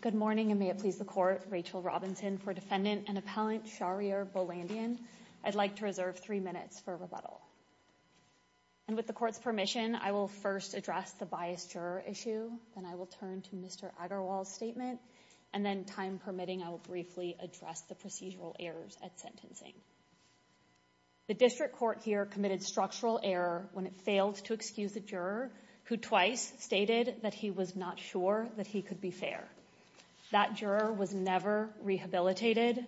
Good morning, and may it please the Court, Rachel Robinson for Defendant and Appellant Sharir Bolandian. I'd like to reserve three minutes for rebuttal. And with the Court's permission, I will first address the biased juror issue, then I will turn to Mr. Agarwal's and then, time permitting, I will briefly address the procedural errors at sentencing. The District Court here committed structural error when it failed to excuse a juror who twice stated that he was not sure that he could be fair. That juror was never rehabilitated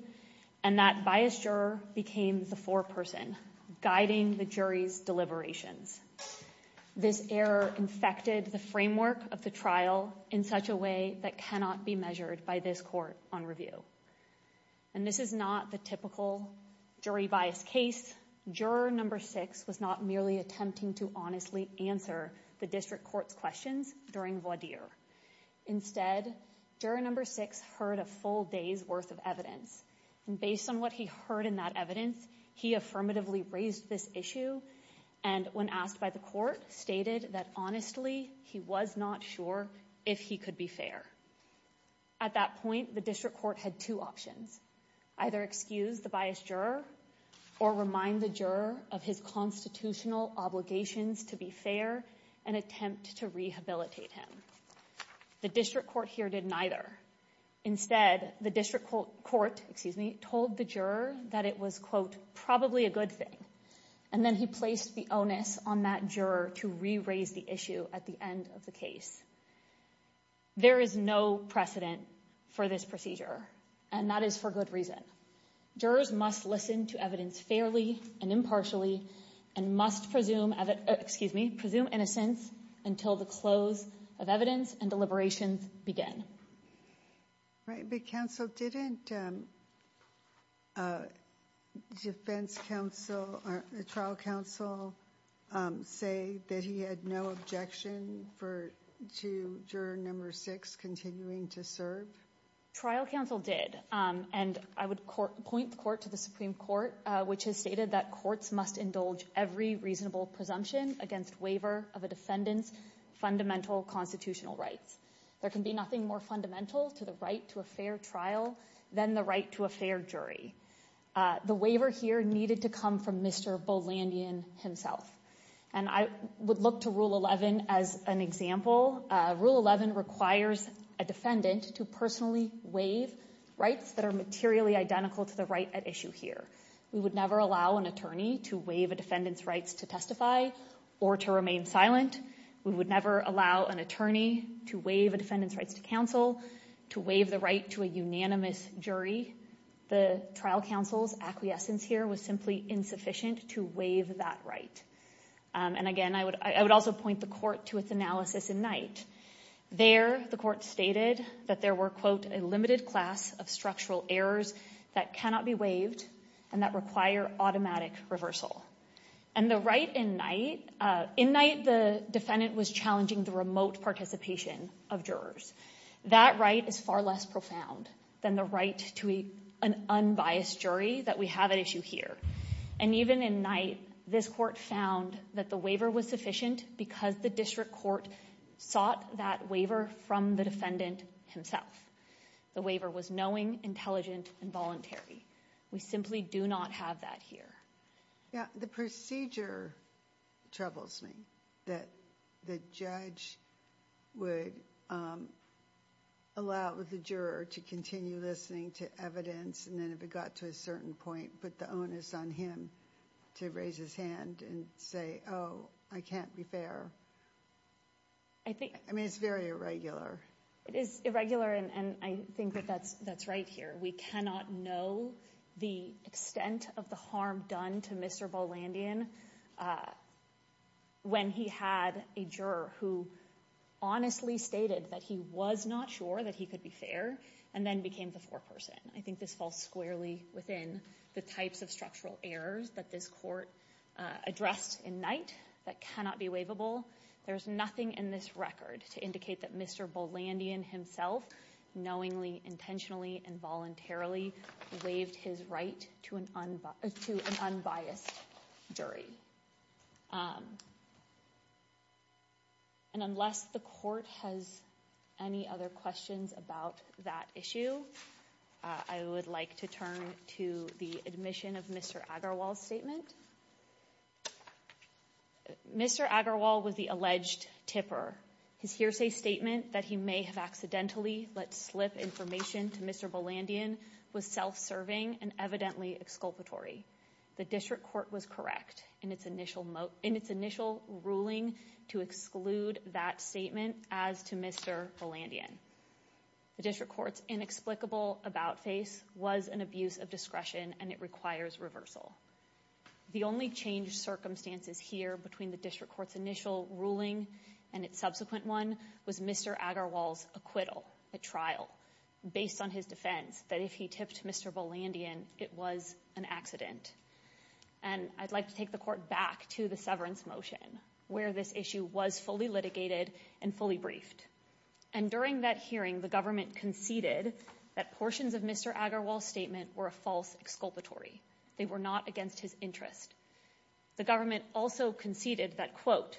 and that biased juror became the foreperson, guiding the jury's deliberations. This error infected the framework of the trial in such a way that cannot be measured by this Court on review. And this is not the typical jury biased case. Juror number six was not merely attempting to honestly answer the District Court's questions during voir dire. Instead, juror number six heard a full day's worth of evidence. And based on what he heard in that evidence, he affirmatively raised this issue. And when asked by the Court, stated that, honestly, he was not sure if he could be fair. At that point, the District Court had two options. Either excuse the biased juror or remind the juror of his constitutional obligations to be fair and attempt to rehabilitate him. The District Court here did neither. Instead, the District Court, excuse me, told the juror that it was, quote, probably a good thing. And then he placed the onus on that juror to re-raise the issue at the end of the case. There is no precedent for this procedure. And that is for good reason. Jurors must listen to evidence fairly and impartially and must presume, excuse me, presume innocence until the close of evidence and deliberations begin. Right. But counsel, didn't defense counsel, trial counsel say that he had no objection for to juror number six continuing to serve? Trial counsel did. And I would point the court to the Supreme Court, which has stated that courts must indulge every reasonable presumption against waiver of a defendant's fundamental constitutional rights. There can be nothing more fundamental to the right to a fair trial than the right to a fair jury. The waiver here needed to come from Mr. Bolandian himself. And I would look to Rule 11 as an example. Rule 11 requires a defendant to personally waive rights that are materially identical to the right at issue here. We would never allow an attorney to waive a defendant's rights to testify or to remain silent. We would never allow an attorney to waive a defendant's rights to counsel, to waive the right to a unanimous jury. The trial counsel's acquiescence here was simply insufficient to waive that right. And again, I would also point the court to its analysis in Knight. There, the court stated that there were, quote, a limited class of structural errors that cannot be waived and that require automatic reversal. And the right in Knight, in Knight the defendant was challenging the remote participation of jurors. That right is far less profound than the right to an unbiased jury that we have at issue here. And even in Knight, this court found that the waiver was sufficient because the district court sought that waiver from the defendant himself. The waiver was knowing, intelligent, and voluntary. We simply do not have that here. Yeah, the procedure troubles me, that the judge would allow the juror to continue listening to evidence and then if it got to a certain point, put the onus on him to raise his hand and say, oh, I can't be fair. I think, I mean, it's very irregular. It is irregular and I think that that's right here. We cannot know the extent of the harm done to Mr. Bolandian when he had a juror who honestly stated that he was not sure that he could be fair and then became the foreperson. I think this falls squarely within the types of structural errors that this court addressed in Knight that cannot be waivable. There's nothing in this record to indicate that Mr. Bolandian himself knowingly, intentionally, and voluntarily waived his right to an unbiased jury. And unless the court has any other questions about that issue, I would like to turn to the admission of Mr. Agarwal's statement. Mr. Agarwal was the alleged tipper. His hearsay statement that he may have accidentally let slip information to Mr. Bolandian was self-serving and evidently exculpatory. The district court was correct in its initial in its initial ruling to exclude that statement as to Mr. Bolandian. The district court's inexplicable about face was an abuse of discretion and it requires reversal. The only change circumstances here between the district court's initial ruling and its subsequent one was Mr. Agarwal's acquittal at trial based on his defense that if he tipped Mr. Bolandian, it was an accident. And I'd like to take the court back to the severance motion where this issue was fully litigated and fully briefed. And during that hearing, the government conceded that portions of Mr. Agarwal's statement were a false exculpatory. They were not against his interest. The government also conceded that, quote,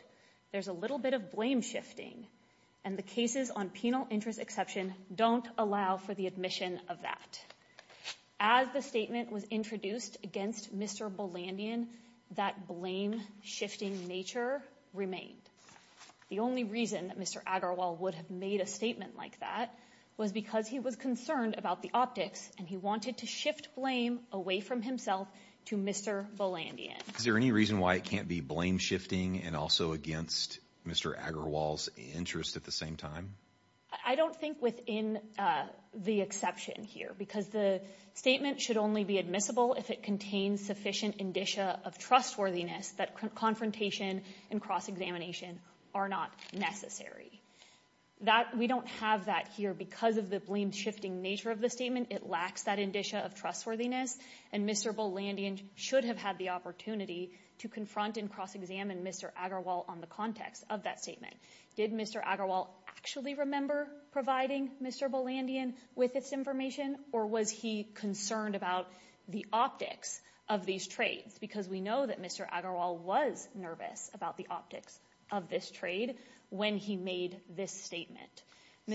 there's a little bit of blame shifting and the cases on penal interest exception don't allow for the admission of that. As the statement was introduced against Mr. Bolandian, that blame shifting nature remained. The only reason that Mr. Agarwal would have made a statement like that was because he was concerned about the optics and he wanted to shift blame away from himself to Mr. Bolandian. Is there any reason why it can't be blame shifting and also against Mr. Agarwal's interest at the same time? I don't think within the exception here, because the statement should only be admissible if it contains sufficient indicia of trustworthiness, that confrontation and cross-examination are not necessary. That we don't have that here because of the blame shifting nature of the statement. It lacks that indicia of trustworthiness. And Mr. Bolandian should have had the opportunity to confront and cross-examine Mr. Agarwal on the context of that statement. Did Mr. Agarwal actually remember providing Mr. Bolandian with this information? Or was he concerned about the optics of these trades? Because we know that Mr. Agarwal was nervous about the optics of this trade when he made this statement.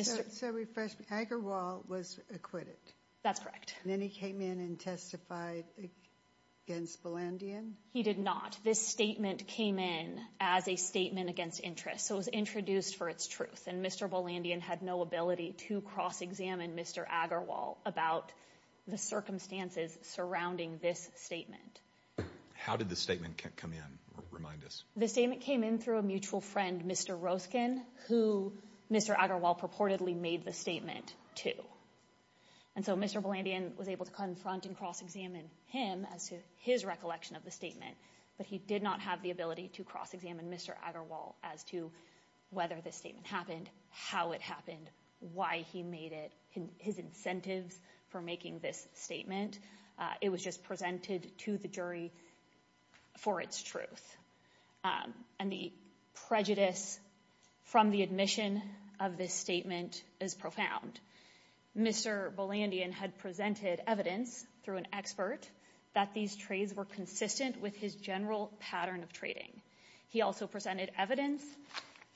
So refresh me, Agarwal was acquitted? That's correct. And then he came in and testified against Bolandian? He did not. This statement came in as a statement against interest. So it was introduced for its truth. And Mr. Bolandian had no ability to cross-examine Mr. Agarwal about the circumstances surrounding this statement. How did the statement come in? Remind us. The statement came in through a mutual friend, Mr. Roskin, who Mr. Agarwal purportedly made the statement to. And so Mr. Bolandian was able to confront and cross-examine him as to his recollection of the statement. But he did not have the ability to cross-examine Mr. Agarwal as to whether the statement happened, how it happened, why he made it, his incentives for making this statement. It was just presented to the jury for its truth. And the prejudice from the admission of this statement is profound. Mr. Bolandian had presented evidence through an expert that these trades were consistent with his general pattern of trading. He also presented evidence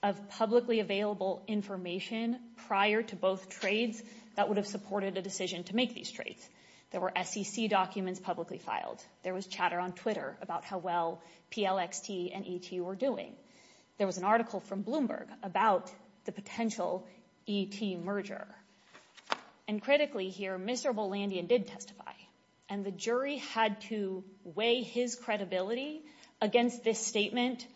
of publicly available information prior to both trades that would have supported a decision to make these trades. There were SEC documents publicly filed. There was chatter on Twitter about how well PLXT and ET were doing. There was an article from Bloomberg about the potential ET merger. And critically here, Mr. Bolandian did testify. And the jury had to weigh his credibility against this statement,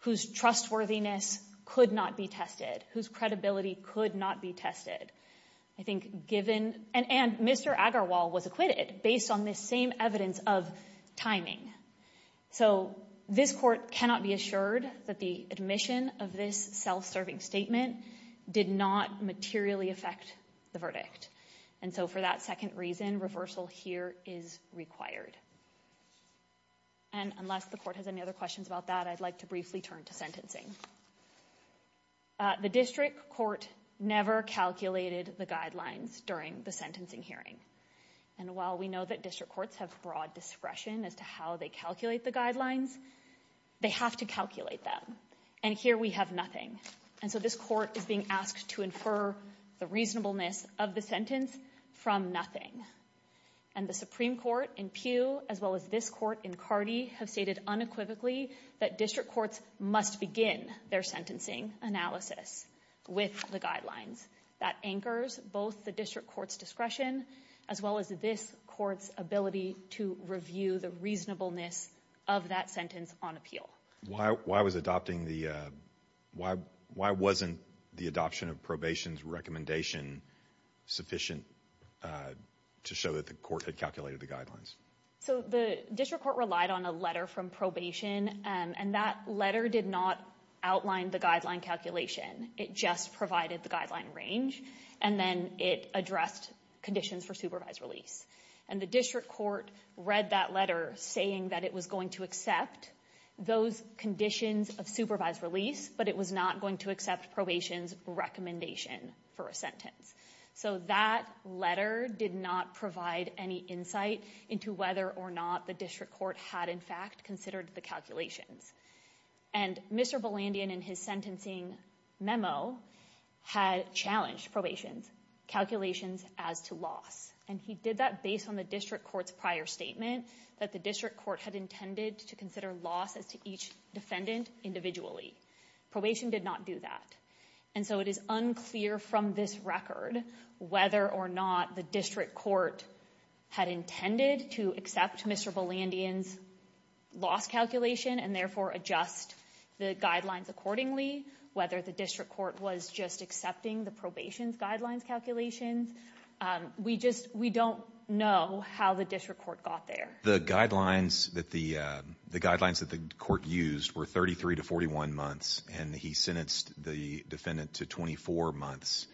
whose trustworthiness could not be tested, whose credibility could not be tested. I think given — and Mr. Agarwal was acquitted based on this same evidence of timing. So this court cannot be assured that the admission of this self-serving statement did not materially affect the verdict. And so for that second reason, reversal here is required. And unless the court has any other questions about that, I'd like to briefly turn to sentencing. The district court never calculated the guidelines during the sentencing hearing. And while we know that district courts have broad discretion as to how they calculate the guidelines, they have to calculate them. And here we have nothing. And so this court is being asked to infer the reasonableness of the sentence from nothing. And the Supreme Court in Peel, as well as this court in Cardi, have stated unequivocally that district courts must begin their sentencing analysis with the guidelines. That anchors both the district court's discretion, as well as this court's ability to review the reasonableness of that sentence on appeal. Why was adopting the — why wasn't the adoption of probation's recommendation sufficient to show that the court had calculated the guidelines? So the district court relied on a letter from probation, and that letter did not outline the guideline calculation. It just provided the guideline range, and then it addressed conditions for supervised release. And the district court read that letter saying that it was going to accept those conditions of supervised release, but it was not going to accept probation's recommendation for a sentence. So that letter did not provide any insight into whether or not the district court had, in fact, considered the calculations. And Mr. Bolandian, in his sentencing memo, had challenged probation's calculations as to loss. And he did that based on the district court's prior statement that the district court had intended to consider loss as to each defendant individually. Probation did not do that. And so it is unclear from this record whether or not the district court had intended to accept Mr. Bolandian's loss calculation, and therefore adjust the guidelines accordingly, whether the district court was just accepting the probation's guidelines calculations. We just — we don't know how the district court got there. The guidelines that the — the guidelines that the court used were 33 to 41 months, and he sentenced the defendant to 24 months.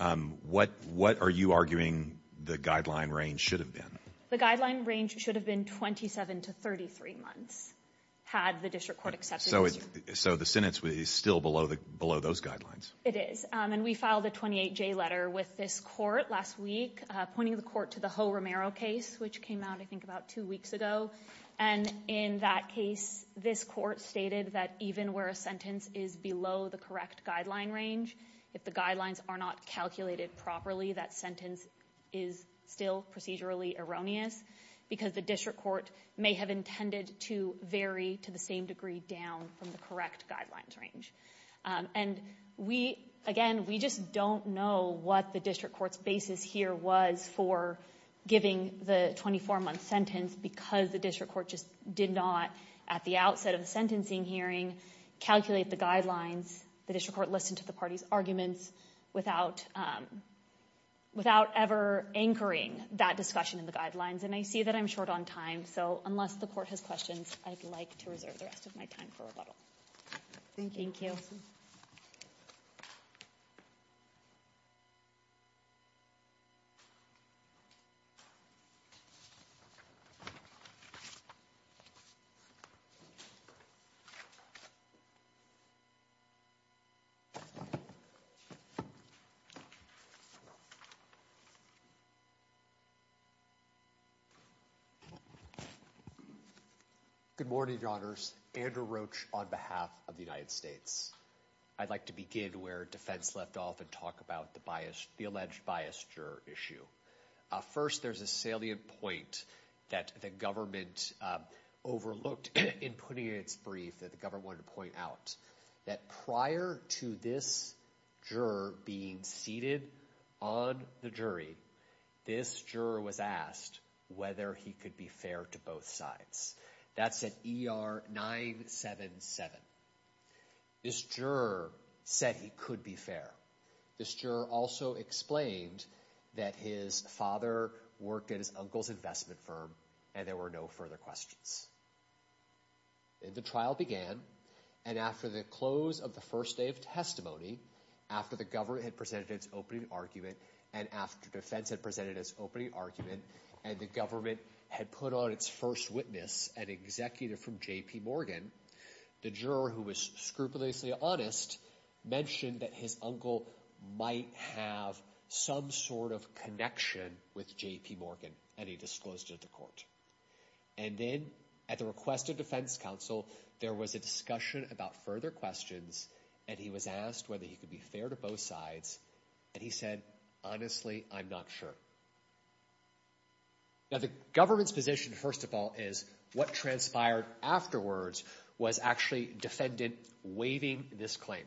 What — what are you arguing the guideline range should have been? The guideline range should have been 27 to 33 months, had the district court accepted this. So the sentence is still below those guidelines? It is. And we filed a 28-J letter with this court last week, pointing the court to the Ho-Romero case, which came out, I think, about two weeks ago. And in that case, this court stated that even where a sentence is below the correct guideline range, if the guidelines are not calculated properly, that sentence is still procedurally erroneous, because the district court may have intended to vary to the same degree down from the correct guidelines range. And we — again, we just don't know what the district court's basis here was for giving the 24-month sentence, because the district court just did not, at the outset of the sentencing hearing, calculate the guidelines. The district court listened to the party's arguments without — without ever anchoring that discussion in the guidelines. And I see that I'm short on time, so unless the court has questions, I'd like to reserve the rest of my time for rebuttal. Thank you. Thank you. Good morning, Your Honors. Andrew Roach on behalf of the United States. I'd like to begin where defense left off and talk about the biased — the alleged biased juror issue. First, there's a salient point that the government overlooked in putting in its brief that the government wanted to point out, that prior to this juror being seated on the jury, this juror was asked whether he could be fair to both sides. That's at ER 977. This juror said he could be fair. This juror also explained that his father worked at his uncle's investment firm, and there were no further questions. And the trial began, and after the close of the first day of testimony, after the government had presented its opening argument, and after defense had presented its opening argument, and the government had put on its first witness, an executive from J.P. Morgan, the juror, who was scrupulously honest, mentioned that his uncle might have some sort of connection with J.P. Morgan, and he disclosed it to court. And then, at the request of defense counsel, there was a discussion about further questions, and he was asked whether he could be fair to both sides, and he said, honestly, I'm not sure. Now, the government's position, first of all, is what transpired afterwards was actually defendant waiving this claim.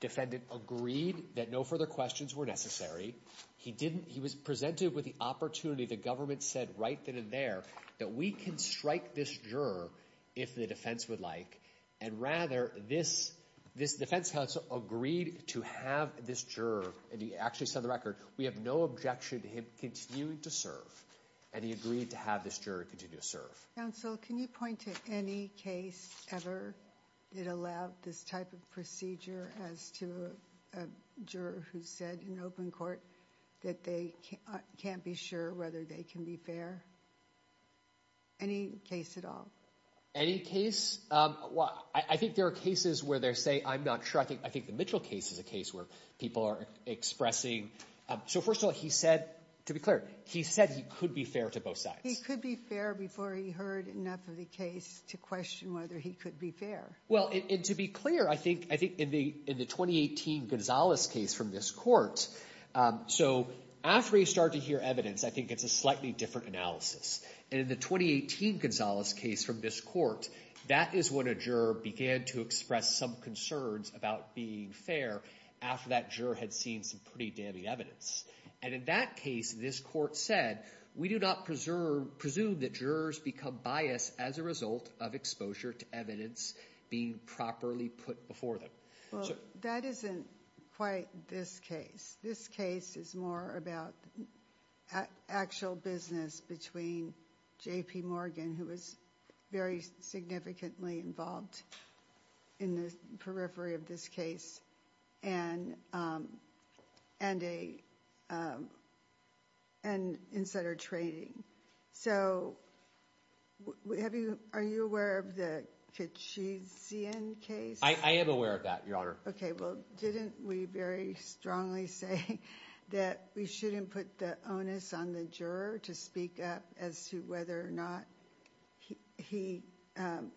Defendant agreed that no further questions were necessary. He was presented with the opportunity, the government said right then and there, that we can strike this juror if the defense would like, and rather, this defense counsel agreed to have this juror, and he actually set the record, we have no objection to him continuing to serve, and he agreed to have this juror continue to serve. Counsel, can you point to any case ever that allowed this type of procedure as to a juror who said in open court that they can't be sure whether they can be fair? Any case at all? Any case? Well, I think there are cases where they're saying, I'm not sure. I think the Mitchell case is a case where people are expressing, so first of all, he said, to be clear, he said he could be fair to both sides. He could be fair before he heard enough of the case to question whether he could be fair. Well, and to be clear, I think in the 2018 Gonzales case from this court, so after you start to hear evidence, I think it's a slightly different analysis, and in the 2018 Gonzales case from this court, that is when a juror began to express some concerns about being fair after that juror had seen some pretty damning evidence, and in that case, this court said, we do not presume that jurors become biased as a result of exposure to evidence being properly put before them. Well, that isn't quite this case. This case is more about actual business between J.P. Morgan, who was very significantly involved in the periphery of this case, and insider trading. So, are you aware of the Kitchezian case? I am aware of that, Your Honor. Okay, well, didn't we very strongly say that we shouldn't put the onus on the juror to speak up as to whether or not he,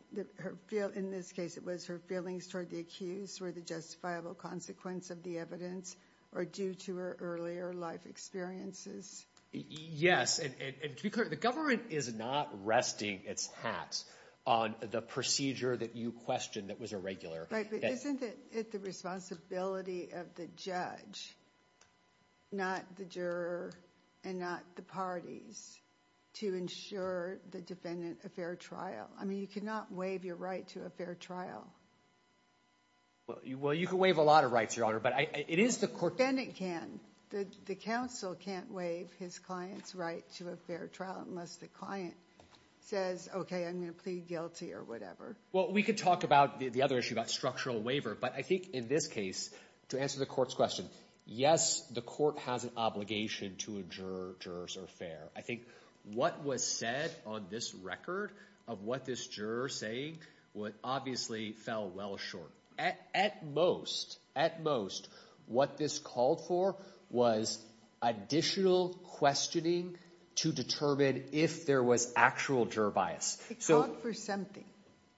in this case, it was her feelings toward the accused were the justifiable consequence of the evidence or due to her earlier life experiences? Yes, and to be clear, the government is not resting its hat on the procedure that you questioned that was irregular. Right, but isn't it the responsibility of the judge, not the juror, and not the parties, to ensure the defendant a fair trial? I mean, you cannot waive your right to a fair trial. Well, you can waive a lot of rights, Your Honor, but it is the court— The defendant can. The counsel can't waive his client's right to a fair trial unless the client says, okay, I'm going to plead guilty or whatever. Well, we could talk about the other issue, about structural waiver, but I think in this case, to answer the court's question, yes, the court has an obligation to ensure jurors are fair. I think what was said on this record of what this juror is saying obviously fell well short. At most, at most, what this called for was additional questioning to determine if there was actual juror bias. It called for something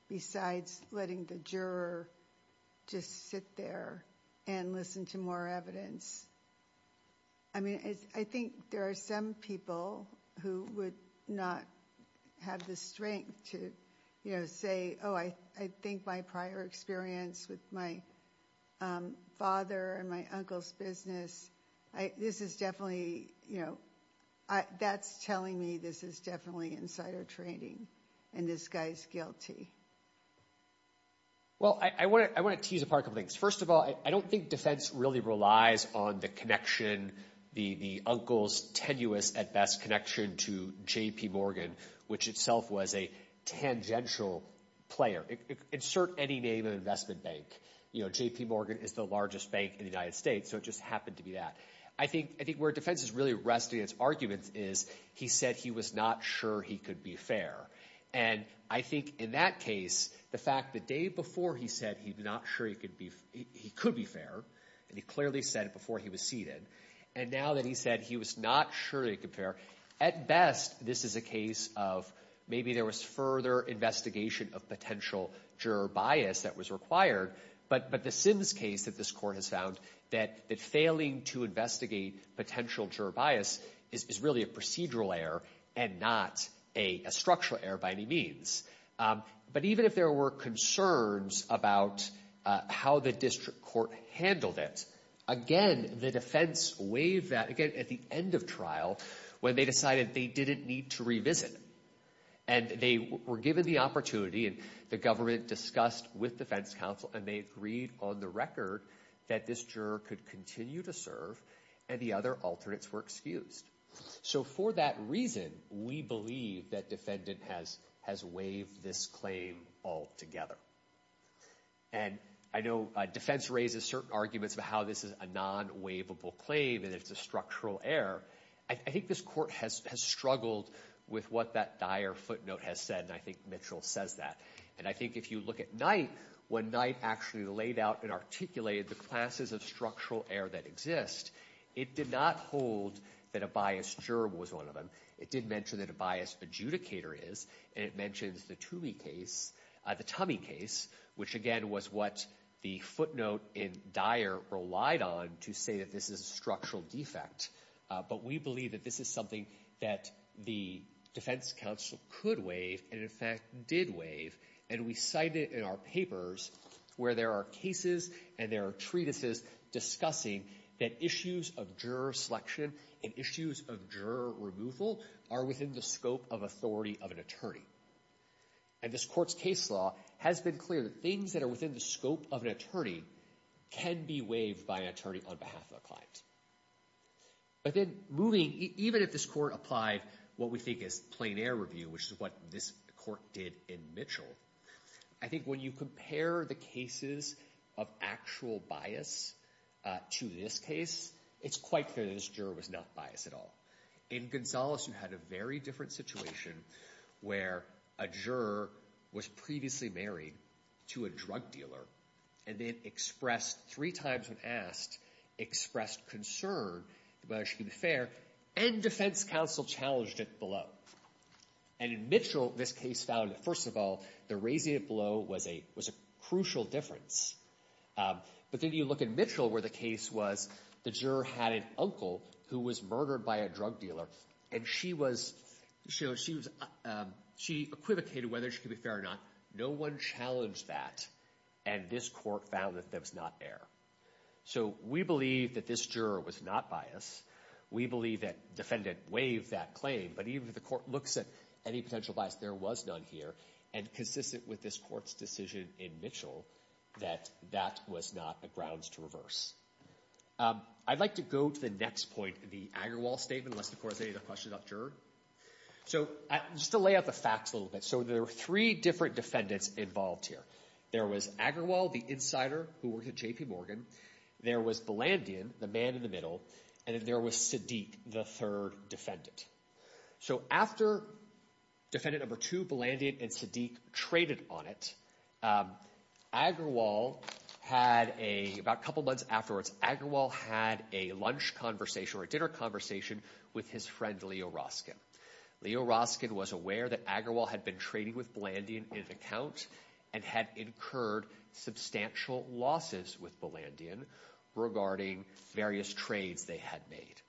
besides letting the juror just sit there and listen to more evidence. I mean, I think there are some people who would not have the strength to, you know, say, oh, I think my prior experience with my father and my uncle's business, this is definitely, you know, that's telling me this is definitely insider trading and this guy's guilty. Well, I want to tease apart a couple things. First of all, I don't think defense really relies on the connection, the uncle's tenuous, at best, connection to J.P. Morgan, which itself was a tangential player. Insert any name of investment bank. You know, J.P. Morgan is the largest bank in the United States, so it just happened to be that. I think where defense is really resting its arguments is he said he was not sure he could be fair. And I think in that case, the fact the day before he said he's not sure he could be fair, and he clearly said it before he was seated, and now that he said he was not sure he could be fair, at best, this is a case of maybe there was further investigation of potential juror bias that was required. But the Sims case that this court has found that failing to investigate potential juror bias is really a procedural error and not a structural error by any means. But even if there were concerns about how the district court handled it, again, the defense waived that, again, at the end of trial when they decided they didn't need to revisit it. And they were given the opportunity, and the government discussed with defense counsel, and they agreed on the record that this juror could continue to serve and the other alternates were excused. So for that reason, we believe that defendant has waived this claim altogether. And I know defense raises certain arguments about how this is a non-waivable claim and it's a structural error. I think this court has struggled with what that dire footnote has said, and I think Mitchell says that. And I think if you look at Knight, when Knight actually laid out and articulated the classes of structural error that exist, it did not hold that a biased juror was one of them. It did mention that a biased adjudicator is, and it mentions the Toomey case, the Tumey case, which again was what the footnote in dire relied on to say that this is a structural defect. But we believe that this is something that the defense counsel could waive, and in fact did waive, and we cite it in our papers where there are cases and there are treatises discussing that issues of juror selection and issues of juror removal are within the scope of authority of an attorney. And this court's case law has been clear that things that are within the scope of an But then moving, even if this court applied what we think is plain air review, which is what this court did in Mitchell, I think when you compare the cases of actual bias to this case, it's quite clear that this juror was not biased at all. In Gonzales, you had a very different situation where a juror was previously married to a drug dealer and then expressed, three times when asked, expressed concern about whether she could be fair, and defense counsel challenged it below. And in Mitchell, this case found that first of all, the raising it below was a crucial difference. But then you look at Mitchell where the case was, the juror had an uncle who was murdered by a drug dealer, and she was, she equivocated whether she could be fair or not. No one challenged that, and this court found that there was not error. So we believe that this juror was not biased. We believe that defendant waived that claim, but even if the court looks at any potential bias, there was none here, and consistent with this court's decision in Mitchell, that that was not a grounds to reverse. I'd like to go to the next point, the Agarwal statement, unless the court has any questions about juror. So just to lay out the facts a little bit, so there were three different defendants involved here. There was Agarwal, the insider who worked at J.P. Morgan, there was Blandian, the man in the middle, and then there was Sadiq, the third defendant. So after defendant number two, Blandian and Sadiq, traded on it, Agarwal had a, about a couple months afterwards, Agarwal had a lunch conversation or a dinner conversation with his friend Leo Roskin. Leo Roskin was aware that Agarwal had been trading with Blandian in an account and had incurred substantial losses with Blandian regarding various trades they had made.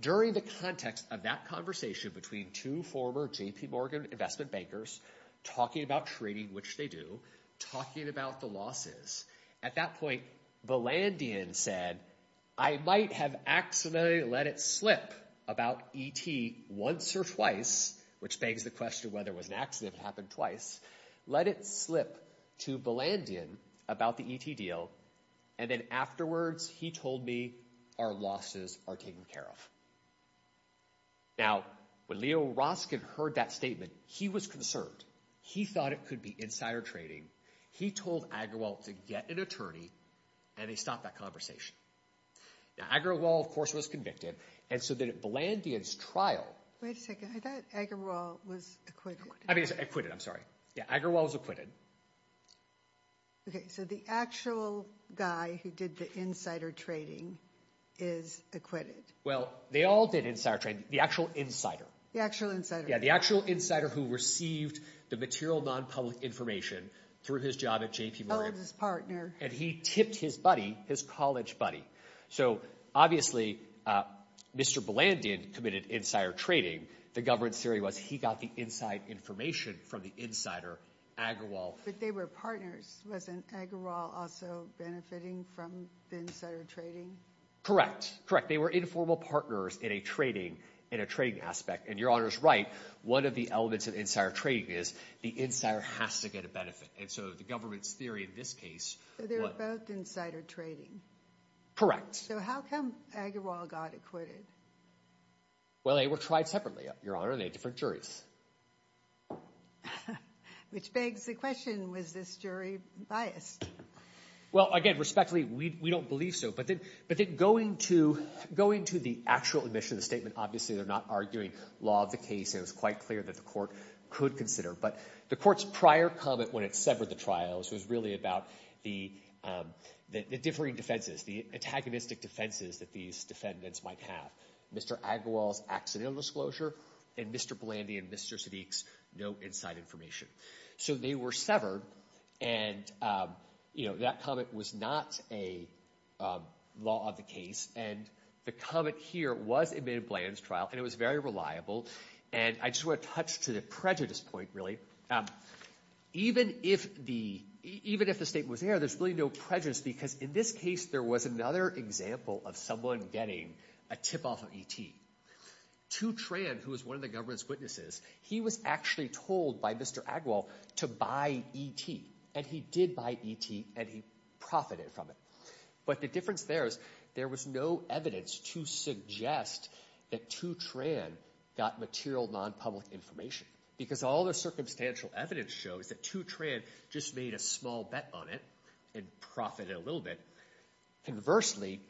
During the context of that conversation between two former J.P. Morgan investment bankers, talking about trading, which they do, talking about the losses, at that point Blandian said, I might have accidentally let it slip about E.T. once or twice, which begs the question whether it was an accident or it happened twice, let it slip to Blandian about the E.T. deal and then afterwards he told me our losses are taken care of. Now when Leo Roskin heard that statement, he was concerned. He thought it could be insider trading. He told Agarwal to get an attorney and they stopped that and so then at Blandian's trial. Wait a second, I thought Agarwal was acquitted. I mean he's acquitted, I'm sorry. Yeah, Agarwal was acquitted. Okay, so the actual guy who did the insider trading is acquitted. Well, they all did insider trading. The actual insider. The actual insider. Yeah, the actual insider who received the material non-public information through his job at J.P. So obviously Mr. Blandian committed insider trading. The government's theory was he got the inside information from the insider, Agarwal. But they were partners. Wasn't Agarwal also benefiting from the insider trading? Correct, correct. They were informal partners in a trading, in a trading aspect and your honor's right. One of the elements of insider trading is the insider has to get a and so the government's theory in this case. So they're both insider trading? Correct. So how come Agarwal got acquitted? Well, they were tried separately, your honor. They had different juries. Which begs the question, was this jury biased? Well, again respectfully, we don't believe so. But then, but then going to, going to the actual admission of the statement, obviously they're not arguing law of the case. It was quite clear that the court could consider. But the court's prior comment when it severed the trials was really about the, the differing defenses, the antagonistic defenses that these defendants might have. Mr. Agarwal's accidental disclosure and Mr. Blandian, Mr. Sadiq's no inside information. So they were severed and, you know, that comment was not a law of the case. And the comment here was admitted Bland's trial and it was very reliable. And I just want to touch to the prejudice point really. Even if the, even if the statement was there, there's really no prejudice. Because in this case, there was another example of someone getting a tip off of E.T. To Tran, who was one of the government's witnesses, he was actually told by Mr. Agarwal to buy E.T. And he did buy E.T. and he profited from it. But the difference there is, there was no evidence to suggest that To Tran got material non-public information. Because all the circumstantial evidence shows that To Tran just made a small bet on it and profited a little bit. Conversely,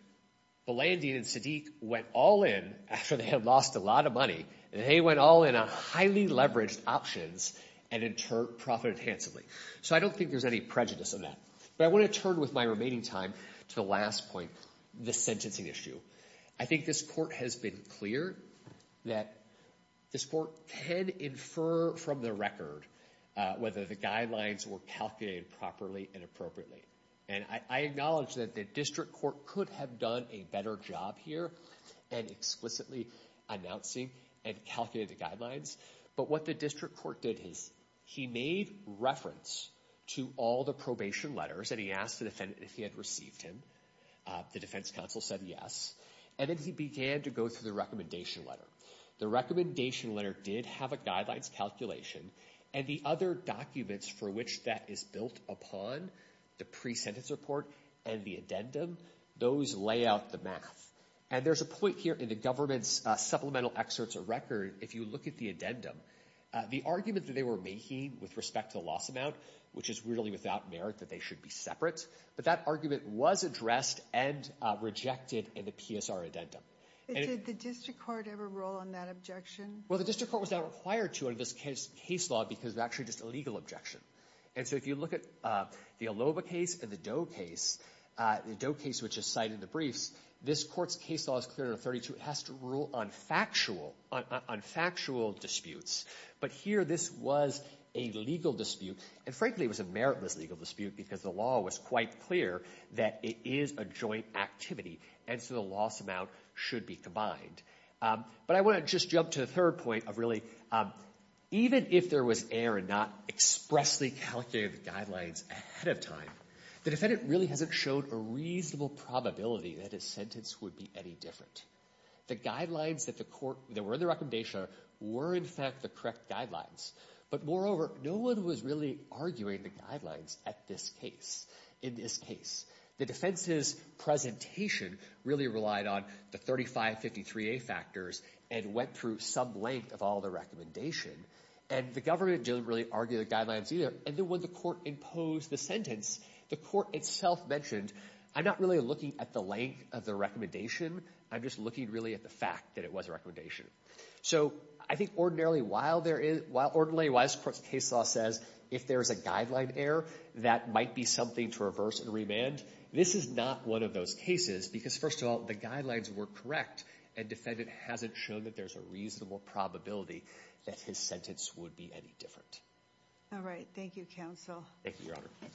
Blandian and Sadiq went all in after they had lost a lot of money and they went all in on highly leveraged options and in turn profited handsomely. So I don't think there's any prejudice on that. But I want to turn with my remaining time to the last point, the sentencing issue. I think this court has been clear that this court can infer from the record whether the guidelines were calculated properly and appropriately. And I acknowledge that the district court could have done a better job here and explicitly announcing and calculating the guidelines. But what the he asked the defendant if he had received him. The defense counsel said yes. And then he began to go through the recommendation letter. The recommendation letter did have a guidelines calculation and the other documents for which that is built upon, the pre-sentence report and the addendum, those lay out the math. And there's a point here in the government's supplemental excerpts of record, if you look at the addendum, the argument that they were making with respect to the loss amount, which is really without merit that they should be separate. But that argument was addressed and rejected in the PSR addendum. Did the district court ever roll on that objection? Well the district court was not required to in this case law because it's actually just a legal objection. And so if you look at the Aloba case and the Doe case, the Doe case which is cited in the briefs, this court's case law is clear in 32. It has to rule on factual, on factual disputes. But here this was a legal dispute and frankly it was a meritless legal dispute because the law was quite clear that it is a joint activity and so the loss amount should be combined. But I want to just jump to the third point of really even if there was error and not expressly calculated guidelines ahead of time, the defendant really hasn't shown a reasonable probability that his sentence would be any different. The guidelines that the court, that were in the recommendation were in fact the correct guidelines. But moreover, no one was really arguing the guidelines at this case, in this case. The defense's presentation really relied on the 3553A factors and went through some length of all the recommendation. And the government didn't really argue the guidelines either. And then when the court imposed the sentence, the court itself mentioned I'm not really looking at the length of the recommendation. I'm just looking really at the fact that it was a recommendation. So I think ordinarily while there is, while ordinarily why this court's case law says if there is a guideline error that might be something to reverse and remand, this is not one of those cases because first of all the guidelines were correct and defendant hasn't shown that there's a reasonable probability that his sentence would be any different. All right. Thank you, counsel. Thank you, your honor.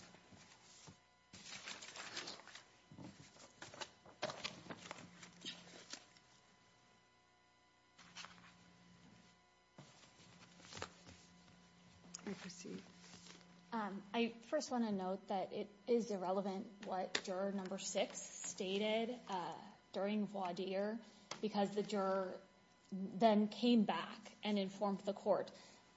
I first want to note that it is irrelevant what juror number six stated during voir dire because the juror then came back and informed the court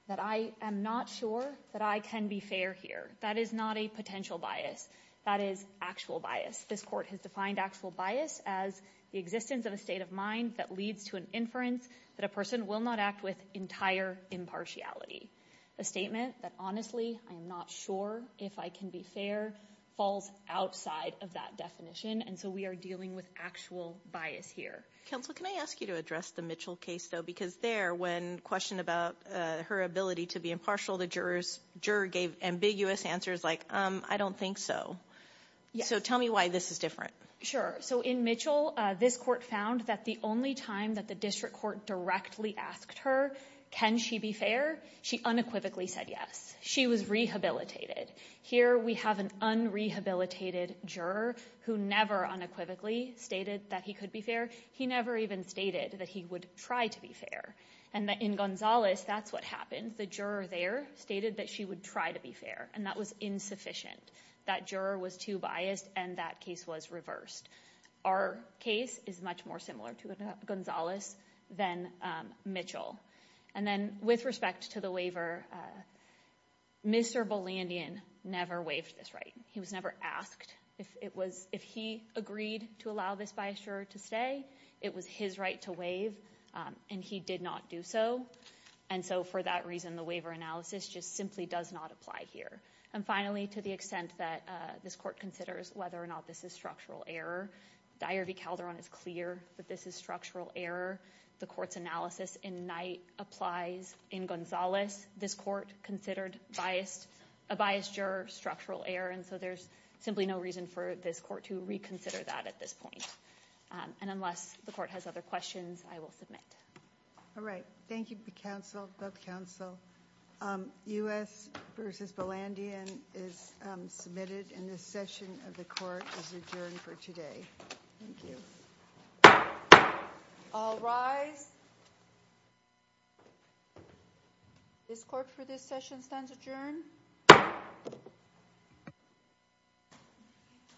that I am not sure that I can be fair here. That is not a potential bias. That is actual bias. This court has defined actual bias as the existence of a state of mind that leads to an inference that a person will not act with entire impartiality. A statement that honestly I'm not sure if I can be fair falls outside of that definition. And so we are dealing with actual bias here. Counsel, can I ask you to address the Mitchell case though? Because there when questioned about her ability to be impartial, the jurors, juror gave ambiguous answers like, I don't think so. So tell me why this is different. Sure. So in Mitchell, this court found that the only time that the district court directly asked her, can she be fair? She unequivocally said yes. She was rehabilitated. Here we have an unrehabilitated juror who never unequivocally stated that he could be fair. He never even stated that he would try to be fair. And that in Gonzalez, that's what happened. The juror there stated that she would try to be fair. And that was insufficient. That juror was too biased and that case was reversed. Our case is much more similar to Gonzalez than Mitchell. And then with respect to the waiver, Mr. Bolandian never waived this right. He was never asked if it was, if he agreed to allow this bias juror to stay, it was his right to waive and he did not do so. And so for that reason, the waiver analysis just simply does not apply here. And finally, to the extent that this court considers whether or not this is structural error, Dyer v. Calderon is clear that this is structural error. The court's analysis in Knight applies in Gonzalez. This court considered biased, a biased juror, structural error. And so there's simply no reason for this court to reconsider that at this point. And unless the court has other questions, I will submit. All right. Thank you, counsel, both counsel. U.S. v. Bolandian is submitted and this session of the court is adjourned for today. Thank you. All rise. This court for this session stands adjourned.